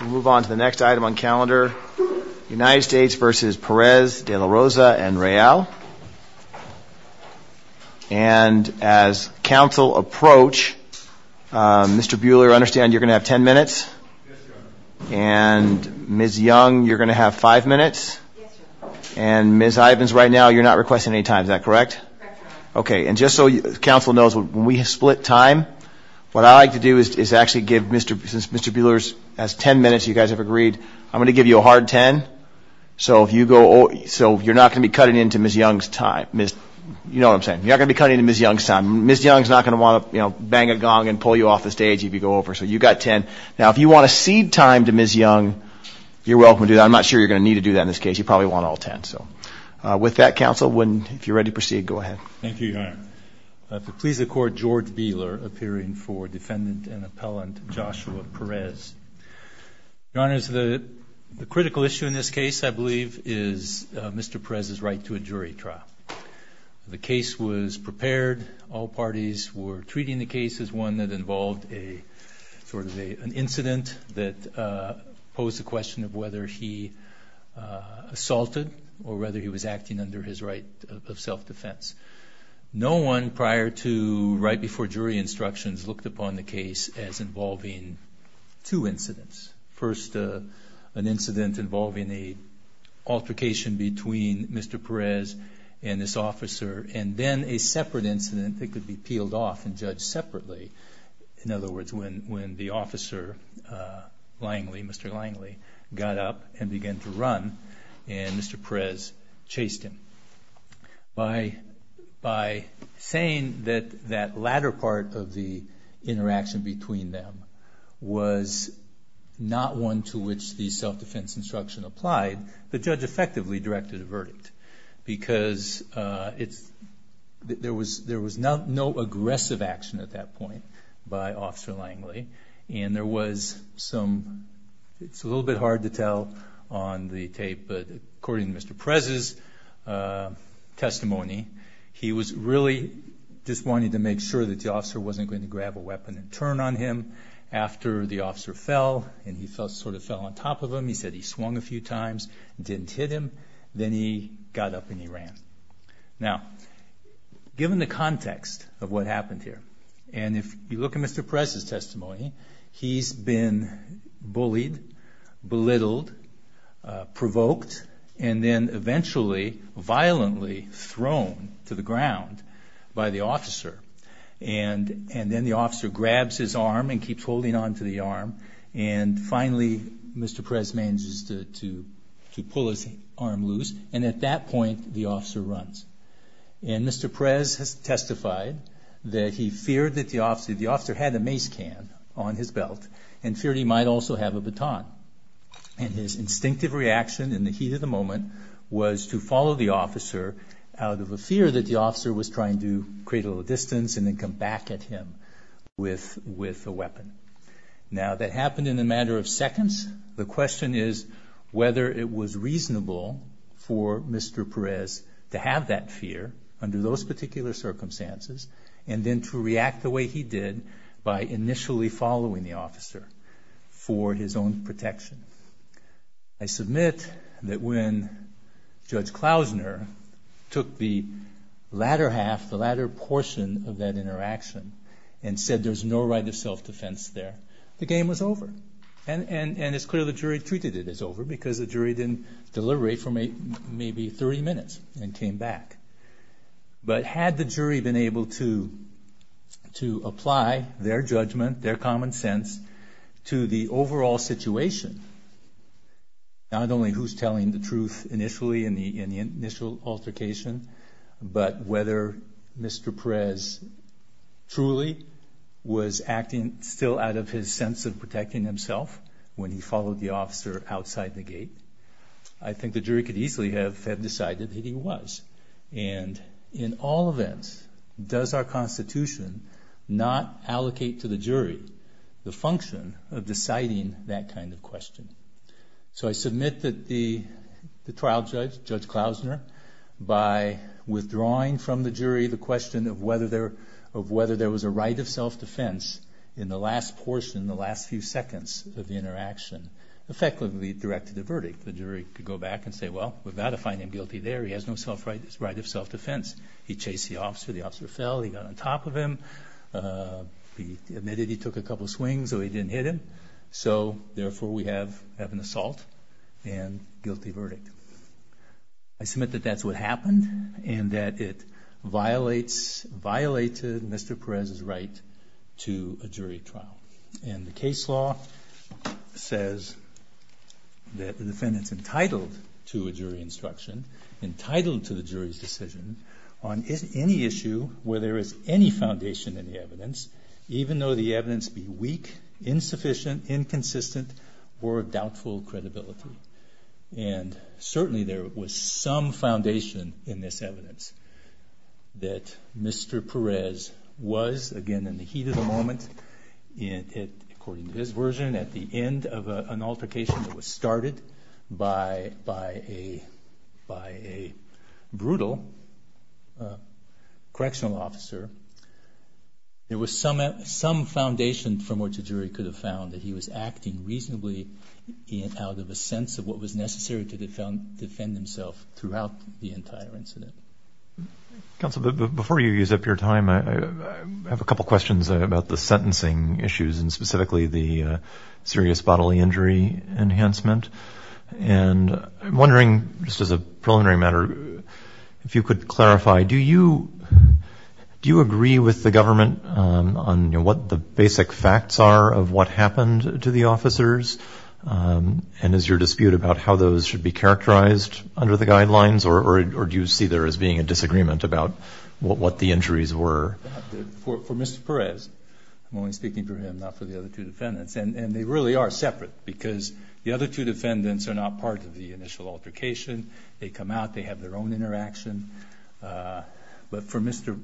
We move on to the next item on calendar. United States v. Perez, De La Rosa and Real. And as council approach, Mr. Buehler, I understand you're gonna have 10 minutes? And Ms. Young, you're gonna have five minutes? And Ms. Ivins, right now you're not requesting any time, is that correct? Okay, and just so council knows when we split time, what I like to do is actually give Mr. Buehler's 10 minutes, you guys have agreed. I'm gonna give you a hard 10, so if you go, so you're not gonna be cutting into Ms. Young's time, Ms., you know what I'm saying, you're not gonna be cutting into Ms. Young's time. Ms. Young's not gonna want to, you know, bang a gong and pull you off the stage if you go over. So you got 10. Now if you want to cede time to Ms. Young, you're welcome to do that. I'm not sure you're gonna need to do that in this case. You probably want all 10. So with that, council, when, if you're ready to proceed, go ahead. Thank you, Your Honor. I have to please accord George Buehler appearing for defendant and appellant Joshua Perez. Your Honor, the critical issue in this case, I believe, is Mr. Perez's right to a jury trial. The case was prepared. All parties were treating the case as one that involved a sort of an incident that posed the question of whether he assaulted or whether he was acting under his right of self-defense. No one prior to, right before jury instructions, looked upon the case as involving two incidents. First, an incident involving an altercation between Mr. Perez and this officer, and then a separate incident that could be peeled off and judged separately. In other words, when the officer, Langley, Mr. Langley, got up and began to run, and Mr. Perez chased him. By saying that that latter part of the interaction between them was not one to which the self-defense instruction applied, the judge effectively directed a verdict. Because there was no aggressive action at that point by Officer Langley, and there was some, it's a little bit hard to tell on the tape, but according to Mr. Perez's testimony, he was really just wanting to make sure that the officer wasn't going to grab a weapon and turn on him. After the officer fell, and he sort of fell on top of him, he said he swung a few times, didn't hit him, then he got up and he ran. Now, given the context of what happened here, and if you look at Mr. Perez's testimony, he's been bullied, belittled, provoked, and then eventually violently thrown to the ground by the officer. And then the officer grabs his arm and keeps holding on to the arm, and finally Mr. Perez manages to pull his arm loose, and at that point the officer runs. And Mr. Perez has testified that he feared that the officer had a mace can on his belt, and feared he might also have a baton. And his instinctive reaction in the heat of the moment was to follow the officer out of a fear that the officer was trying to create a little distance and then come back at him with a weapon. Now, that happened in a matter of seconds. The question is whether it was reasonable for Mr. Perez to have that fear under those particular circumstances, and then to react the way he did by initially following the officer for his own protection. I submit that when Judge Klausner took the latter half, the latter portion of that interaction and said there's no right of self-defense there, the game was over. And it's clear the jury treated it as over because the jury didn't deliberate for maybe 30 minutes and came back. But had the jury been able to apply their judgment, their common sense, to the overall situation, not only who's telling the truth initially in the initial altercation, but whether Mr. Perez truly was acting still out of his sense of protecting himself when he followed the officer outside the gate, I believe he was. And in all events, does our Constitution not allocate to the jury the function of deciding that kind of question? So I submit that the trial judge, Judge Klausner, by withdrawing from the jury the question of whether there was a right of self-defense in the last portion, the last few seconds of the interaction, effectively directed a verdict. The jury could go back and say, well, we've got to find him guilty there, he has no right of self-defense. He chased the officer, the officer fell, he got on top of him, he admitted he took a couple swings so he didn't hit him, so therefore we have an assault and guilty verdict. I submit that that's what happened and that it violated Mr. Perez's right to a jury trial. And the case law says that the defendant's entitled to a jury instruction, entitled to the jury's decision on any issue where there is any foundation in the evidence, even though the evidence be weak, insufficient, inconsistent, or of doubtful credibility. And certainly there was some foundation in this evidence that Mr. Perez was, again in the heat of the moment, according to his version, at the end of an altercation that was started by a brutal correctional officer, there was some foundation from which a jury could have found that he was acting reasonably out of a sense of what was necessary to defend himself throughout the entire incident. Counsel, before you use up your time, I have a couple questions about the serious bodily injury enhancement. And I'm wondering, just as a preliminary matter, if you could clarify, do you agree with the government on what the basic facts are of what happened to the officers? And is your dispute about how those should be characterized under the guidelines? Or do you see there as being a disagreement about what the injuries were? For Mr. Perez, I'm only speaking for him, not for the other two defendants, and they really are separate because the other two defendants are not part of the initial altercation. They come out, they have their own interaction. But for Mr.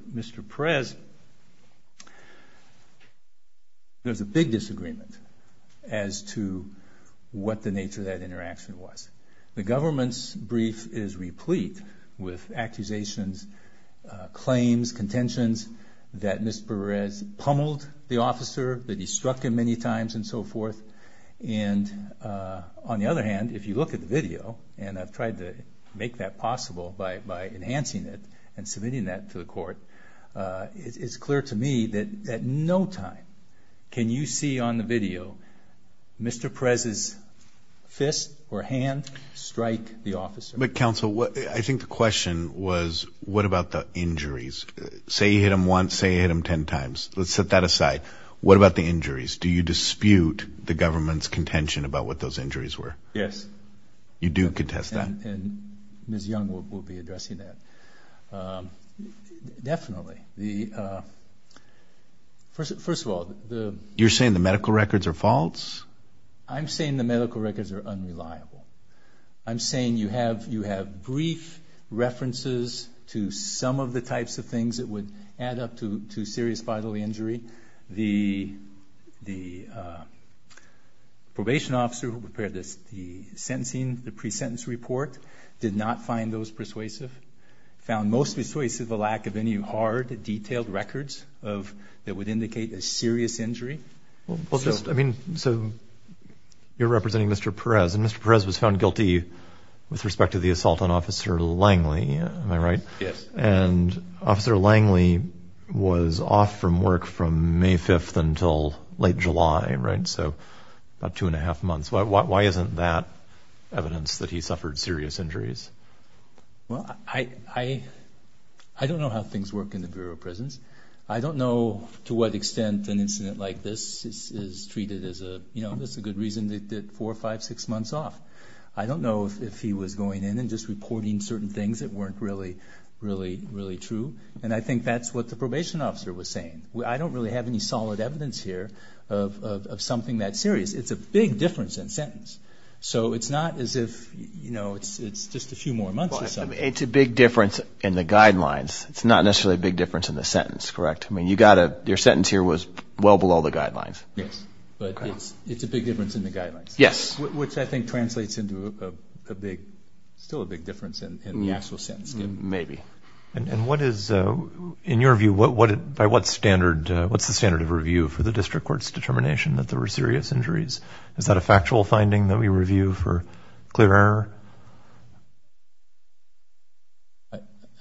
Perez, there's a big disagreement as to what the nature of that interaction was. The government's brief is replete with accusations, claims, contentions that Mr. Perez pummeled the officer, that he struck him many times, and so forth. And on the other hand, if you look at the video, and I've tried to make that possible by enhancing it and submitting that to the court, it's clear to me that at no time can you see on the video Mr. Perez's fist or hand strike the officer. But counsel, I think the question was, what about the injuries? Say he hit him once, say he hit him ten times. Let's set that aside. What about the injuries? Do you dispute the government's contention about what those injuries were? Yes. You do contest that? And Ms. Young will be addressing that. Definitely. First of all, the... You're saying the medical records are false? I'm saying the medical records are unreliable. I'm saying you have brief references to some of the types of things that would add up to serious did not find those persuasive, found most persuasive the lack of any hard, detailed records that would indicate a serious injury. Well, just, I mean, so you're representing Mr. Perez, and Mr. Perez was found guilty with respect to the assault on Officer Langley, am I right? Yes. And Officer Langley was off from work from May 5th until late July, right? So about two and a half months. Why isn't that evidence that he suffered serious injuries? Well, I don't know how things work in the Bureau of Prisons. I don't know to what extent an incident like this is treated as a, you know, that's a good reason they did four, five, six months off. I don't know if he was going in and just reporting certain things that weren't really, really, really true. And I think that's what the probation officer was saying. I don't really have any evidence of that serious. It's a big difference in sentence. So it's not as if, you know, it's just a few more months or something. It's a big difference in the guidelines. It's not necessarily a big difference in the sentence, correct? I mean, you got a, your sentence here was well below the guidelines. Yes. But it's a big difference in the guidelines. Yes. Which I think translates into a big, still a big difference in the actual sentence. Maybe. And what is, in your view, what, by what standard, what's the standard of review for the district court's determination that there were serious injuries? Is that a factual finding that we review for clear error?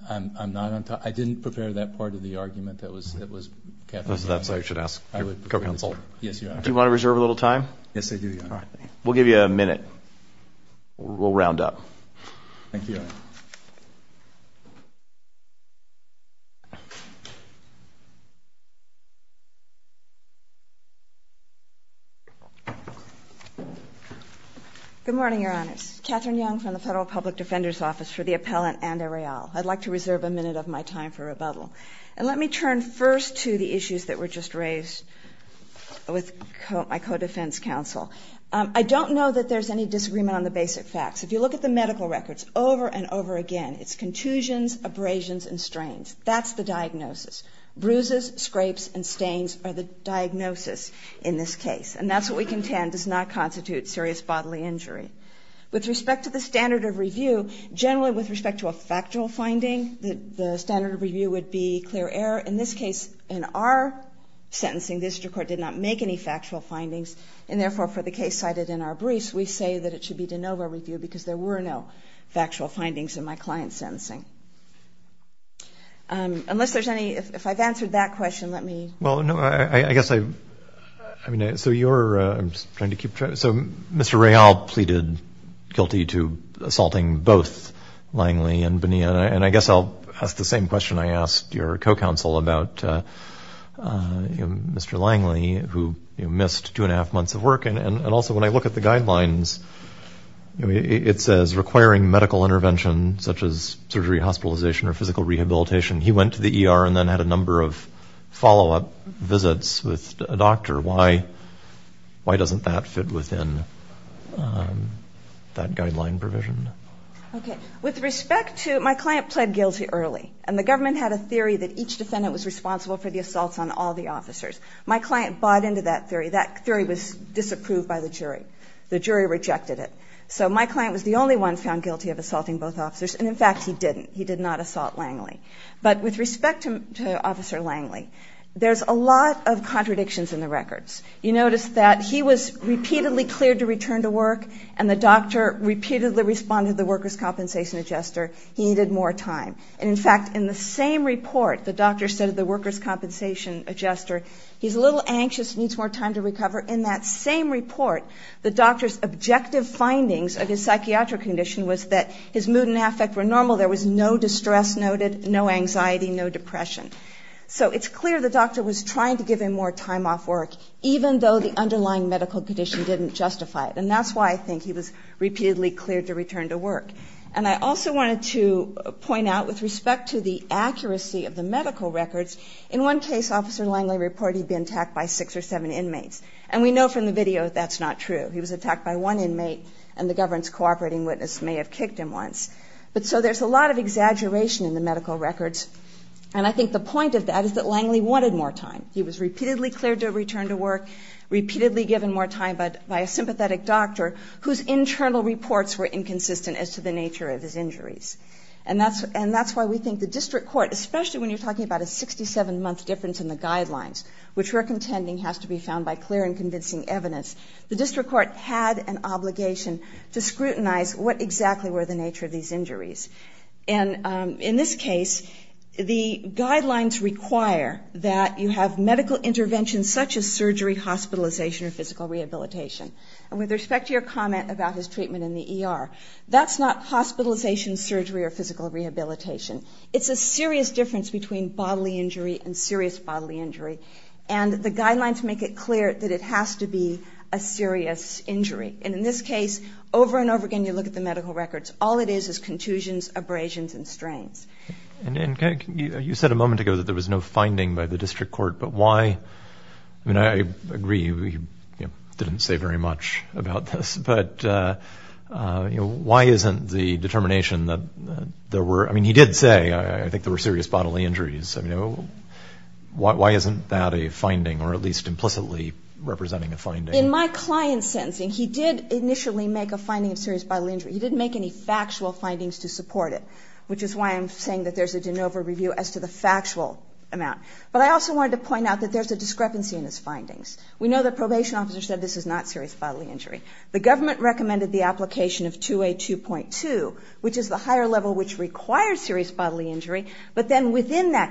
I'm, I'm not on top. I didn't prepare that part of the argument that was, that was kept. That's what I should ask your co-counsel. Yes, Your Honor. Do you want to reserve a little time? Yes, I do, Your Honor. Thank you, Your Honor. Good morning, Your Honors. Catherine Young from the Federal Public Defender's Office for the Appellant and Arreal. I'd like to reserve a minute of my time for rebuttal. And let me turn first to the issues that were just raised with my co-defense counsel. I don't know that there's any disagreement on the basic facts. If you look at the medical records over and over again, it's contusions, abrasions, and strains. That's the diagnosis. Bruises, scrapes, and stains are the diagnosis in this case. And that's what we contend does not constitute serious bodily injury. With respect to the standard of review, generally with respect to a factual finding, the standard of review would be clear error. In this case, in our sentencing, the district court did not make any factual findings. And therefore, for the case cited in our briefs, we say that it should be de novo review because there were no factual findings in my client's sentencing. Unless there's any – if I've answered that question, let me – Well, no, I guess I – I mean, so you're – I'm just trying to keep track. So Mr. Rayall pleaded guilty to assaulting both Langley and Bonilla. And I guess I'll ask the same question I asked your co-counsel about Mr. Langley, who missed two and a half months of work. And also, when I look at the guidelines, it says requiring medical intervention such as surgery, hospitalization, or physical rehabilitation. He went to the ER and then had a number of follow-up visits with a doctor. Why – why doesn't that fit within that guideline provision? Okay. With respect to – my client pled guilty early. And the government had a theory that each defendant was responsible for the assaults on all the officers. My client bought into that theory. That theory was disapproved by the jury. The jury rejected it. So my client was the only one found guilty of assaulting both officers. And in fact, he didn't. He did not assault Langley. But with respect to Officer Langley, there's a lot of contradictions in the records. You notice that he was repeatedly cleared to return to work, and the doctor repeatedly responded to the workers' compensation adjuster, he needed more time. And in fact, in the same report, the doctor said to the workers' compensation adjuster, he's a little anxious, needs more time to recover. In that same report, the doctor's objective findings of his psychiatric condition was that his mood and affect were normal. There was no distress noted, no anxiety, no depression. So it's clear the doctor was trying to give him more time off work, even though the underlying medical condition didn't justify it. And that's why I think he was repeatedly cleared to return to work. And I also wanted to point out, with respect to the accuracy of the medical records, in one case, Officer Langley reported he'd been attacked by six or seven inmates. And we know from the video that that's not true. He was attacked by one inmate, and the government's cooperating witness may have kicked him once. But so there's a lot of exaggeration in the medical records, and I think the point of that is that Langley wanted more time. He was repeatedly cleared to return to work, repeatedly given more time by a sympathetic doctor whose internal reports were inconsistent as to the nature of his injuries. And that's why we think the district court, especially when you're talking about a 67-month difference in the guidelines, which we're contending has to be found by clear and convincing evidence, the district court had an obligation to scrutinize what exactly were the nature of these injuries. And in this case, the guidelines require that you have medical interventions such as surgery, hospitalization, or physical rehabilitation. And with respect to your comment about his treatment in the ER, that's not hospitalization, surgery, or physical rehabilitation. It's a serious difference between bodily injury and serious bodily injury. And the guidelines make it clear that it has to be a serious injury. And in this case, over and over again, you look at the medical records. All it is is contusions, abrasions, and strains. And you said a moment ago that there was no finding by the district court, but why, I mean, I agree, he didn't say very much about this. But why isn't the determination that there were, I mean, he did say, I think there were serious bodily injuries. I mean, why isn't that a finding, or at least implicitly representing a finding? In my client's sentencing, he did initially make a finding of serious bodily injury. He didn't make any factual findings to support it, which is why I'm saying that there's a de novo review as to the factual amount. But I also wanted to point out that there's a discrepancy in his findings. We know the probation officer said this is not serious bodily injury. The government recommended the application of 2A2.2, which is the higher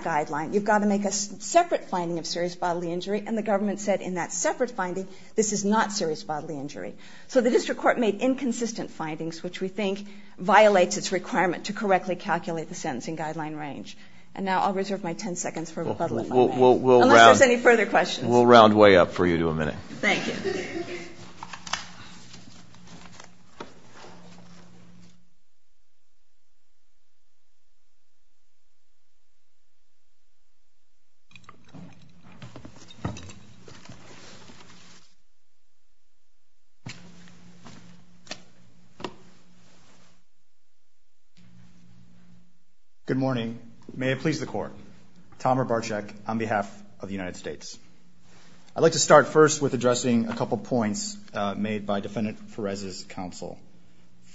guideline, you've got to make a separate finding of serious bodily injury, and the government said in that separate finding, this is not serious bodily injury. So the district court made inconsistent findings, which we think violates its requirement to correctly calculate the sentencing guideline range. And now I'll reserve my ten seconds for rebuttal if I may. Unless there's any further questions. We'll round way up for you to a minute. Thank you. Good morning. May it please the court. Tom Rabarczyk on behalf of the United States. I'd like to start first with addressing a couple of points made by Defendant Perez's counsel.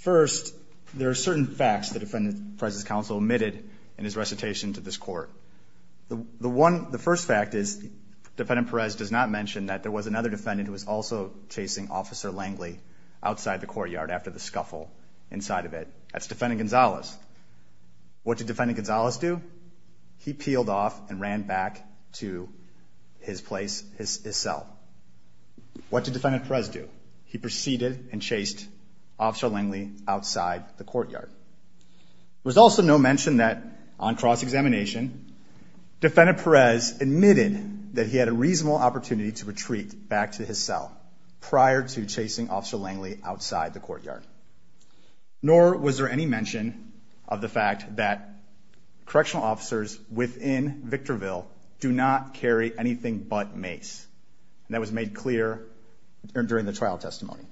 First, there are certain facts that Defendant Perez's counsel admitted in his The first fact is Defendant Perez does not mention that there was another defendant who was also chasing Officer Langley outside the courtyard after the scuffle inside of it. That's Defendant Gonzalez. What did Defendant Gonzalez do? He peeled off and ran back to his place, his cell. What did Defendant Perez do? He proceeded and chased Officer Langley outside the courtyard. There was also no mention that on cross-examination, Defendant Perez admitted that he had a reasonable opportunity to retreat back to his cell prior to chasing Officer Langley outside the courtyard. Nor was there any mention of the fact that correctional officers within Victorville do not carry anything but mace. That was made clear during the trial testimony.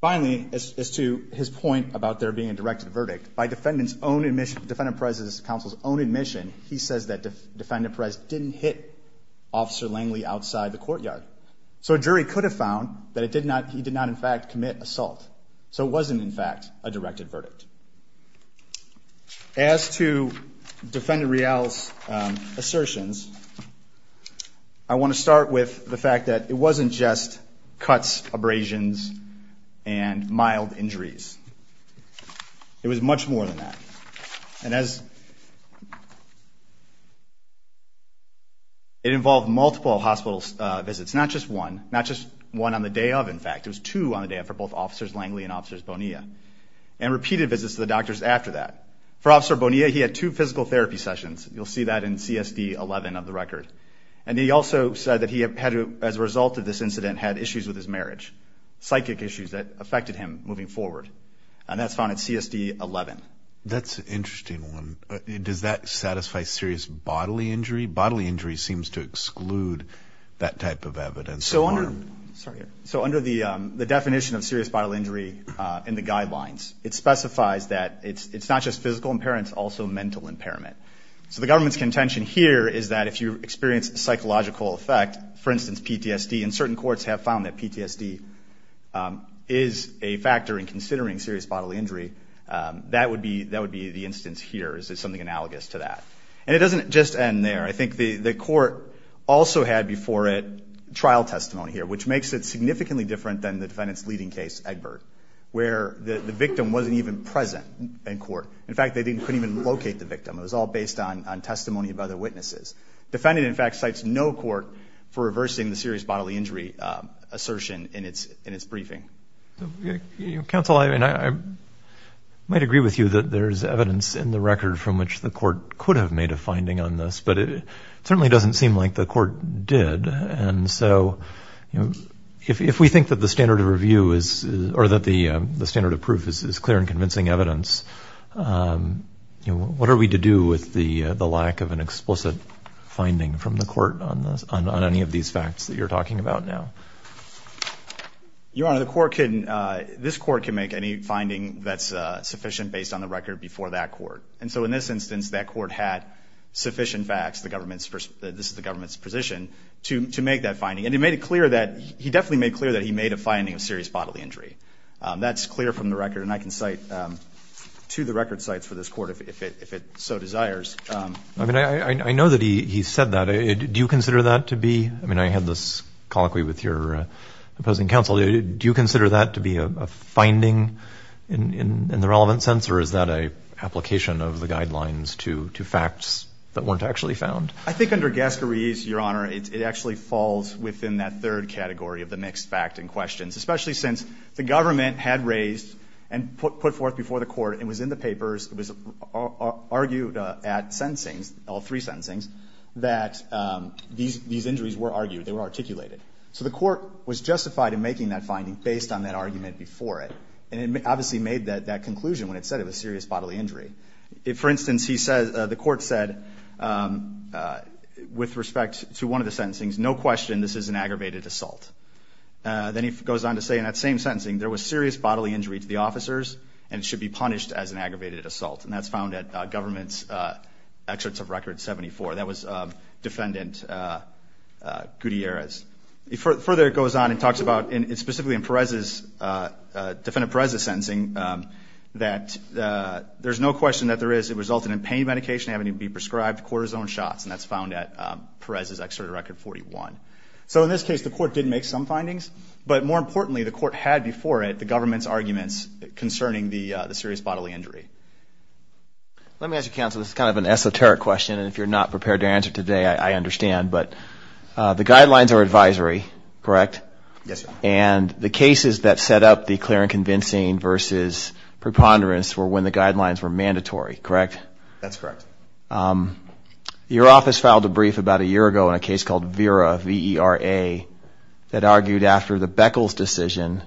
Finally, as to his point about there being a directed verdict, by Defendant Perez's counsel's own admission, he says that Defendant Perez didn't hit Officer Langley outside the courtyard. So a jury could have found that he did not, in fact, commit assault. So it wasn't, in fact, a directed verdict. As to Defendant Real's assertions, I want to start with the fact that it wasn't just cuts, abrasions, and mild injuries. It was much more than that. And as it involved multiple hospital visits, not just one. Not just one on the day of, in fact. It was two on the day of for both Officers Langley and Officers Bonilla. And repeated visits to the doctors after that. For Officer Bonilla, he had two physical therapy sessions. You'll see that in CSD 11 of the record. And he also said that he, as a result of this incident, had issues with his marriage. Psychic issues that affected him moving forward. And that's found at CSD 11. That's an interesting one. Does that satisfy serious bodily injury? Bodily injury seems to exclude that type of evidence. So under the definition of serious bodily injury in the guidelines, it specifies that it's not just physical impairment, it's also mental impairment. So the government's contention here is that if you experience a psychological effect, for instance PTSD, and certain courts have found that PTSD is a factor in considering serious bodily injury, that would be the instance here. It's something analogous to that. And it doesn't just end there. I think the court also had before it trial testimony here, which makes it significantly different than the defendant's leading case, Egbert, where the victim wasn't even present in court. In fact, they couldn't even locate the victim. It was all based on testimony of other witnesses. Defendant, in fact, cites no court for reversing the serious bodily injury assertion in its briefing. Counsel, I might agree with you that there's evidence in the record from which the court could have made a finding on this, but it certainly doesn't seem like the court did. And so if we think that the standard of review is, or that the standard of proof is clear and convincing evidence, what are we to do with the lack of an explicit finding from the court on any of these facts that you're talking about now? Your Honor, this court can make any finding that's sufficient based on the record before that court. And so in this instance, that court had sufficient facts, this is the government's position, to make that finding. And he definitely made clear that he made a finding of serious bodily injury. That's clear from the record, and I can cite two of the record cites for this court if it so desires. I know that he said that. Do you consider that to be... I mean, I had this colloquy with your opposing counsel. Do you consider that to be a finding in the relevant sense, or is that an application of the guidelines to facts that weren't actually found? I think under Gascarese, Your Honor, it actually falls within that third category of the mixed fact and questions, especially since the government had raised and put forth before the court and was in the papers, it was argued at sentencing, all three sentencings, that these injuries were argued, they were articulated. So the court was justified in making that finding based on that argument before it. And it obviously made that conclusion when it said it was serious bodily injury. For instance, the court said, with respect to one of the sentencings, no question this is an aggravated assault. Then he goes on to say in that same sentencing, there was serious bodily injury to the officers and it should be punished as an aggravated assault. And that's found at government's excerpts of Record 74. That was Defendant Gutierrez. Further, it goes on and talks about, specifically in Defendant Perez's sentencing, that there's no question that there is, it resulted in pain medication having to be prescribed, cortisone shots, and that's found at Perez's excerpt of Record 41. So in this case, the court did make some findings, but more importantly, the court had before it the government's arguments concerning the serious bodily injury. Let me ask you, counsel, this is kind of an esoteric question and if you're not prepared to answer today, I understand, but the guidelines are advisory, correct? Yes, sir. And the cases that set up the clear and convincing versus preponderance were when the guidelines were mandatory, correct? That's correct. Your office filed a brief about a year ago on a case called Vera, V-E-R-A, that argued after the Beckles decision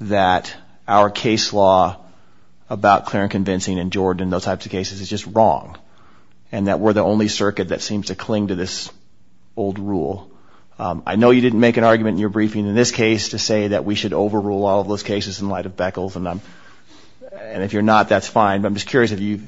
that our case law about clear and convincing and Jordan and those types of cases is just wrong and that we're the only circuit that seems to cling to this old rule. I know you didn't make an argument in your briefing in this case to say that we should overrule all of those cases in light of Beckles and if you're not, that's fine, but I'm just curious, have you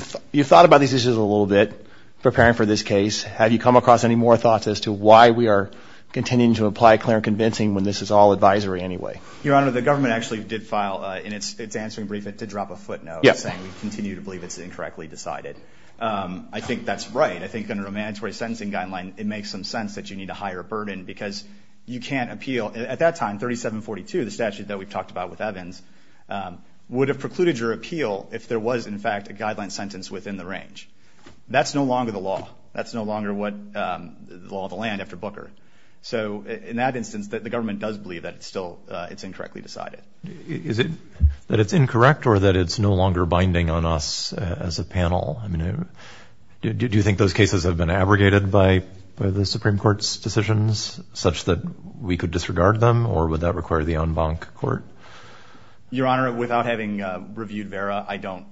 thought about these issues a little bit preparing for this case? Have you come across any more thoughts as to why we are continuing to apply clear and convincing when this is all advisory anyway? Your Honor, the government actually did file in its answering brief, it did drop a footnote saying we continue to believe it's incorrectly decided. I think that's right. I think under a mandatory sentencing guideline, it makes some sense that you need a higher burden because you can't appeal. At that time, 3742, the statute that we've talked about with Evans, would have precluded your appeal if there was in fact a guideline sentence within the range. That's no longer the law. That's no longer the law of the land after Booker. So in that instance, the government does believe that it's still incorrectly decided. Is it that it's incorrect or that it's no longer binding on us as a panel? Do you think those cases have been abrogated by the Supreme Court's decisions such that we could disregard them or would that require the en banc court? Your Honor, without having reviewed Vera, I don't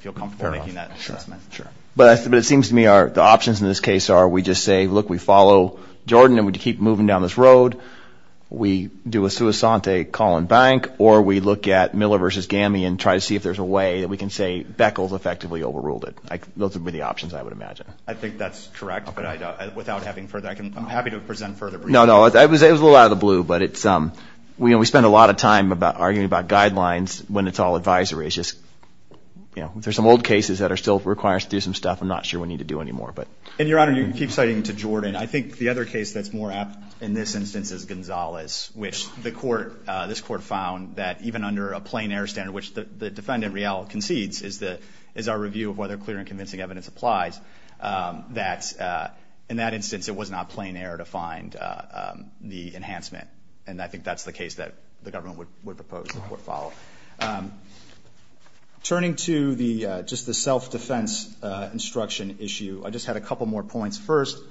feel comfortable making that assessment. But it seems to me the options in this case are we just say, look, we follow Jordan and we keep moving down this road, we do a sua sante, call and bank, or we look at Miller v. Gamian and try to see if there's a way that we can say Beckles effectively overruled it. Those would be the options, I would imagine. I think that's correct, but without having further... I'm happy to present further briefings. No, no, it was a little out of the blue, but we spend a lot of time arguing about guidelines when it's all advisory. It's just, you know, there's some old cases that still require us to do some stuff I'm not sure we need to do anymore. And, Your Honor, you can keep citing to Jordan. I think the other case that's more apt in this instance is Gonzales, which this court found that even under a plain-air standard, which the defendant, Real, concedes, is our review of whether clear and convincing evidence applies, that in that instance, it was not plain-air to find the enhancement. And I think that's the case that the government would propose the court follow. Turning to just the self-defense instruction issue, I just had a couple more points. First,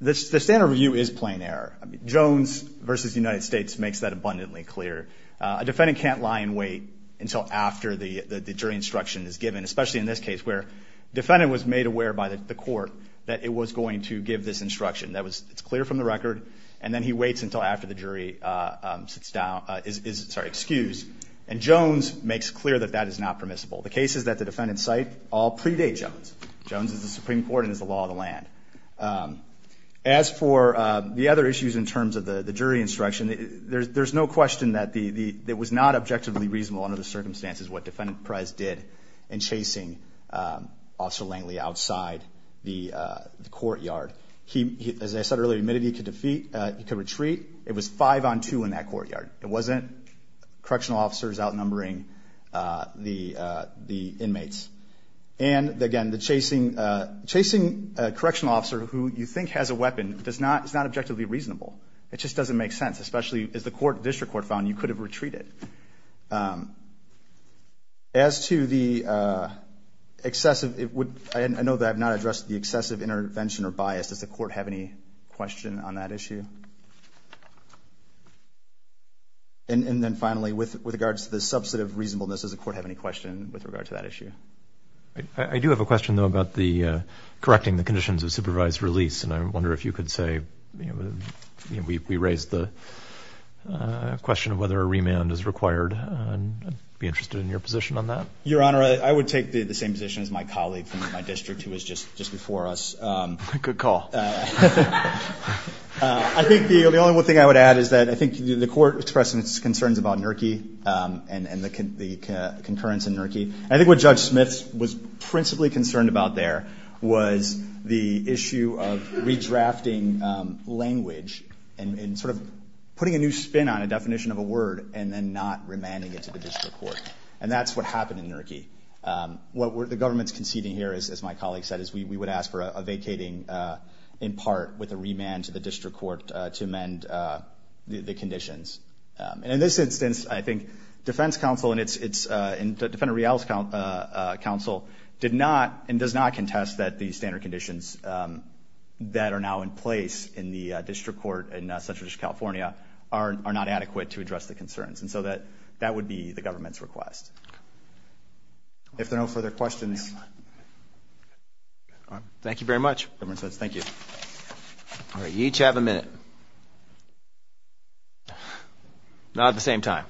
the standard review is plain-air. Jones v. United States makes that abundantly clear. A defendant can't lie in wait until after the jury instruction is given, especially in this case, where the defendant was made aware by the court that it was going to give this instruction. It's clear from the record, and then he waits until after the jury is excused. And Jones makes clear that that is not permissible. The cases that the defendant cite all predate Jones. Jones is the Supreme Court and is the law of the land. As for the other issues in terms of the jury instruction, there's no question that it was not objectively reasonable under the circumstances what Defendant Perez did in chasing Officer Langley outside the courtyard. He, as I said earlier, admitted he could retreat. It was 5-on-2 in that courtyard. It wasn't correctional officers outnumbering the inmates. And again, chasing a correctional officer who you think has a weapon is not objectively reasonable. It just doesn't make sense, especially as the district court found you could have retreated. As to the excessive... I know that I have not addressed the excessive intervention or bias. Does the court have any question on that issue? And then finally, with regards to the substantive reasonableness, does the court have any question with regard to that issue? I do have a question, though, about correcting the conditions of supervised release, and I wonder if you could say... We raised the question of whether a remand is required. I'd be interested in your position on that. Your Honor, I would take the same position as my colleague from my district who was just before us. Good call. I think the only thing I would add is that I think the court expressed its concerns about NERCI and the concurrence in NERCI. I think what Judge Smith was principally concerned about there was the issue of redrafting language and sort of putting a new spin on a definition of a word and then not remanding it to the district court. And that's what happened in NERCI. What the government's conceding here, as my colleague said, is we would ask for a vacating in part with a remand to the district court to amend the conditions. And in this instance, I think Defense Counsel and Defendant Rial's counsel did not and does not contest that the standard conditions that are now in place in the district court in Central District of California are not adequate to address the concerns. And so that would be the government's request. If there are no further questions... Thank you very much. Thank you. All right, you each have a minute. Not at the same time.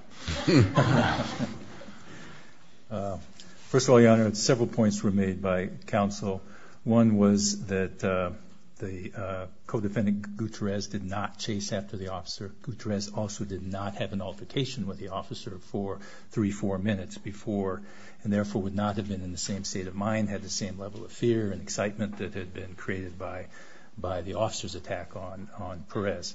First of all, Your Honor, several points were made by counsel. One was that the co-defendant Gutierrez did not chase after the officer. Gutierrez also did not have an altercation with the officer for 3, 4 minutes before and therefore would not have been in the same state of mind, had the same level of fear and excitement that had been created by the officer's attack on Perez.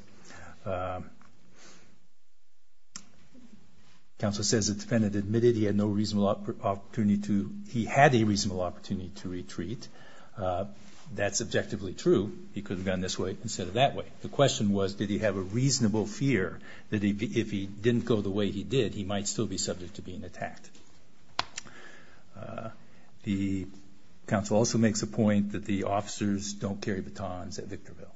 Counsel says the defendant admitted he had no reasonable opportunity to... he had a reasonable opportunity to retreat. That's objectively true. He could have gone this way instead of that way. The question was, did he have a reasonable fear that if he didn't go the way he did, he might still be subject to being attacked? The counsel also makes a point that the officers don't carry batons at Victorville.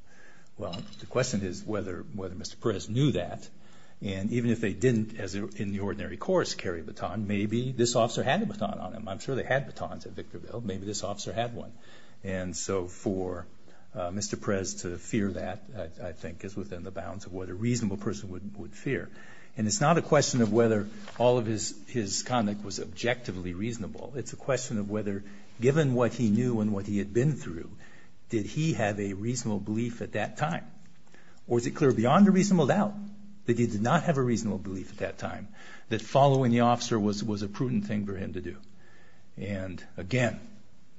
Well, the question is, whether Mr. Perez knew that. And even if they didn't, as in the ordinary course, carry a baton, maybe this officer had a baton on him. I'm sure they had batons at Victorville. Maybe this officer had one. And so for Mr. Perez to fear that, I think, is within the bounds of what a reasonable person would fear. And it's not a question of whether all of his conduct was objectively reasonable. It's a question of whether, given what he knew and what he had been through, did he have a reasonable belief at that time? Or is it clear beyond a reasonable doubt that he did not have a reasonable belief at that time that following the officer was a prudent thing for him to do? And, again,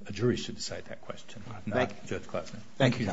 a jury should decide that question, not Judge Klobuchar. Thank you.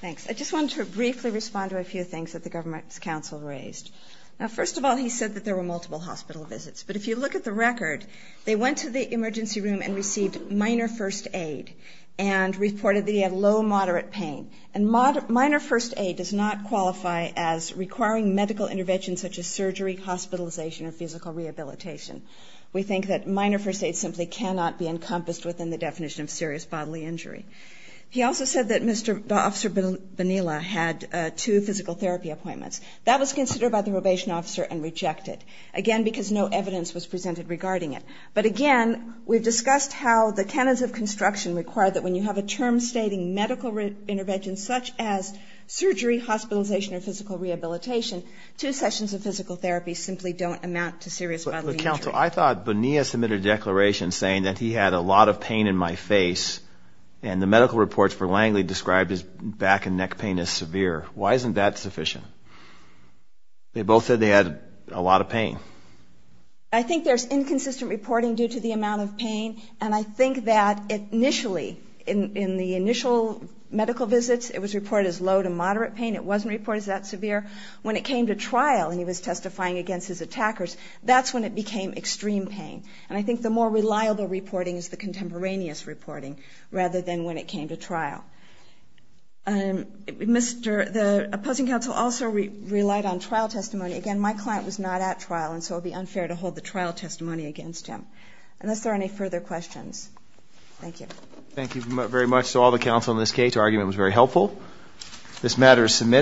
Thanks. I just wanted to briefly respond to a few things that the government's counsel raised. Now, first of all, he said that there were multiple hospital visits. But if you look at the record, they went to the emergency room and received minor first aid and reported that he had low, moderate pain. And minor first aid does not qualify as requiring medical intervention such as surgery, hospitalization, or physical rehabilitation. We think that minor first aid simply cannot be encompassed within the definition of serious bodily injury. He also said that Officer Bonilla had two physical therapy appointments. That was considered by the probation officer and rejected. Again, because no evidence was presented regarding it. But, again, we've discussed how the canons of construction require that when you have a term stating medical intervention such as surgery, hospitalization, or physical rehabilitation, two sessions of physical therapy simply don't amount to serious bodily injury. But, Counsel, I thought Bonilla submitted a declaration saying that he had a lot of pain in my face and the medical reports for Langley described his back and neck pain as severe. Why isn't that sufficient? They both said they had a lot of pain. I think there's inconsistent reporting due to the amount of pain. And I think that initially, in the initial medical visits, it was reported as low to moderate pain. It wasn't reported as that severe. When it came to trial and he was testifying against his attackers, that's when it became extreme pain. And I think the more reliable reporting is the contemporaneous reporting rather than when it came to trial. The opposing counsel also relied on trial testimony. Again, my client was not at trial and so it would be unfair to hold the trial testimony against him. Unless there are any further questions. Thank you. Thank you very much to all the counsel in this case. Your argument was very helpful. This matter is submitted.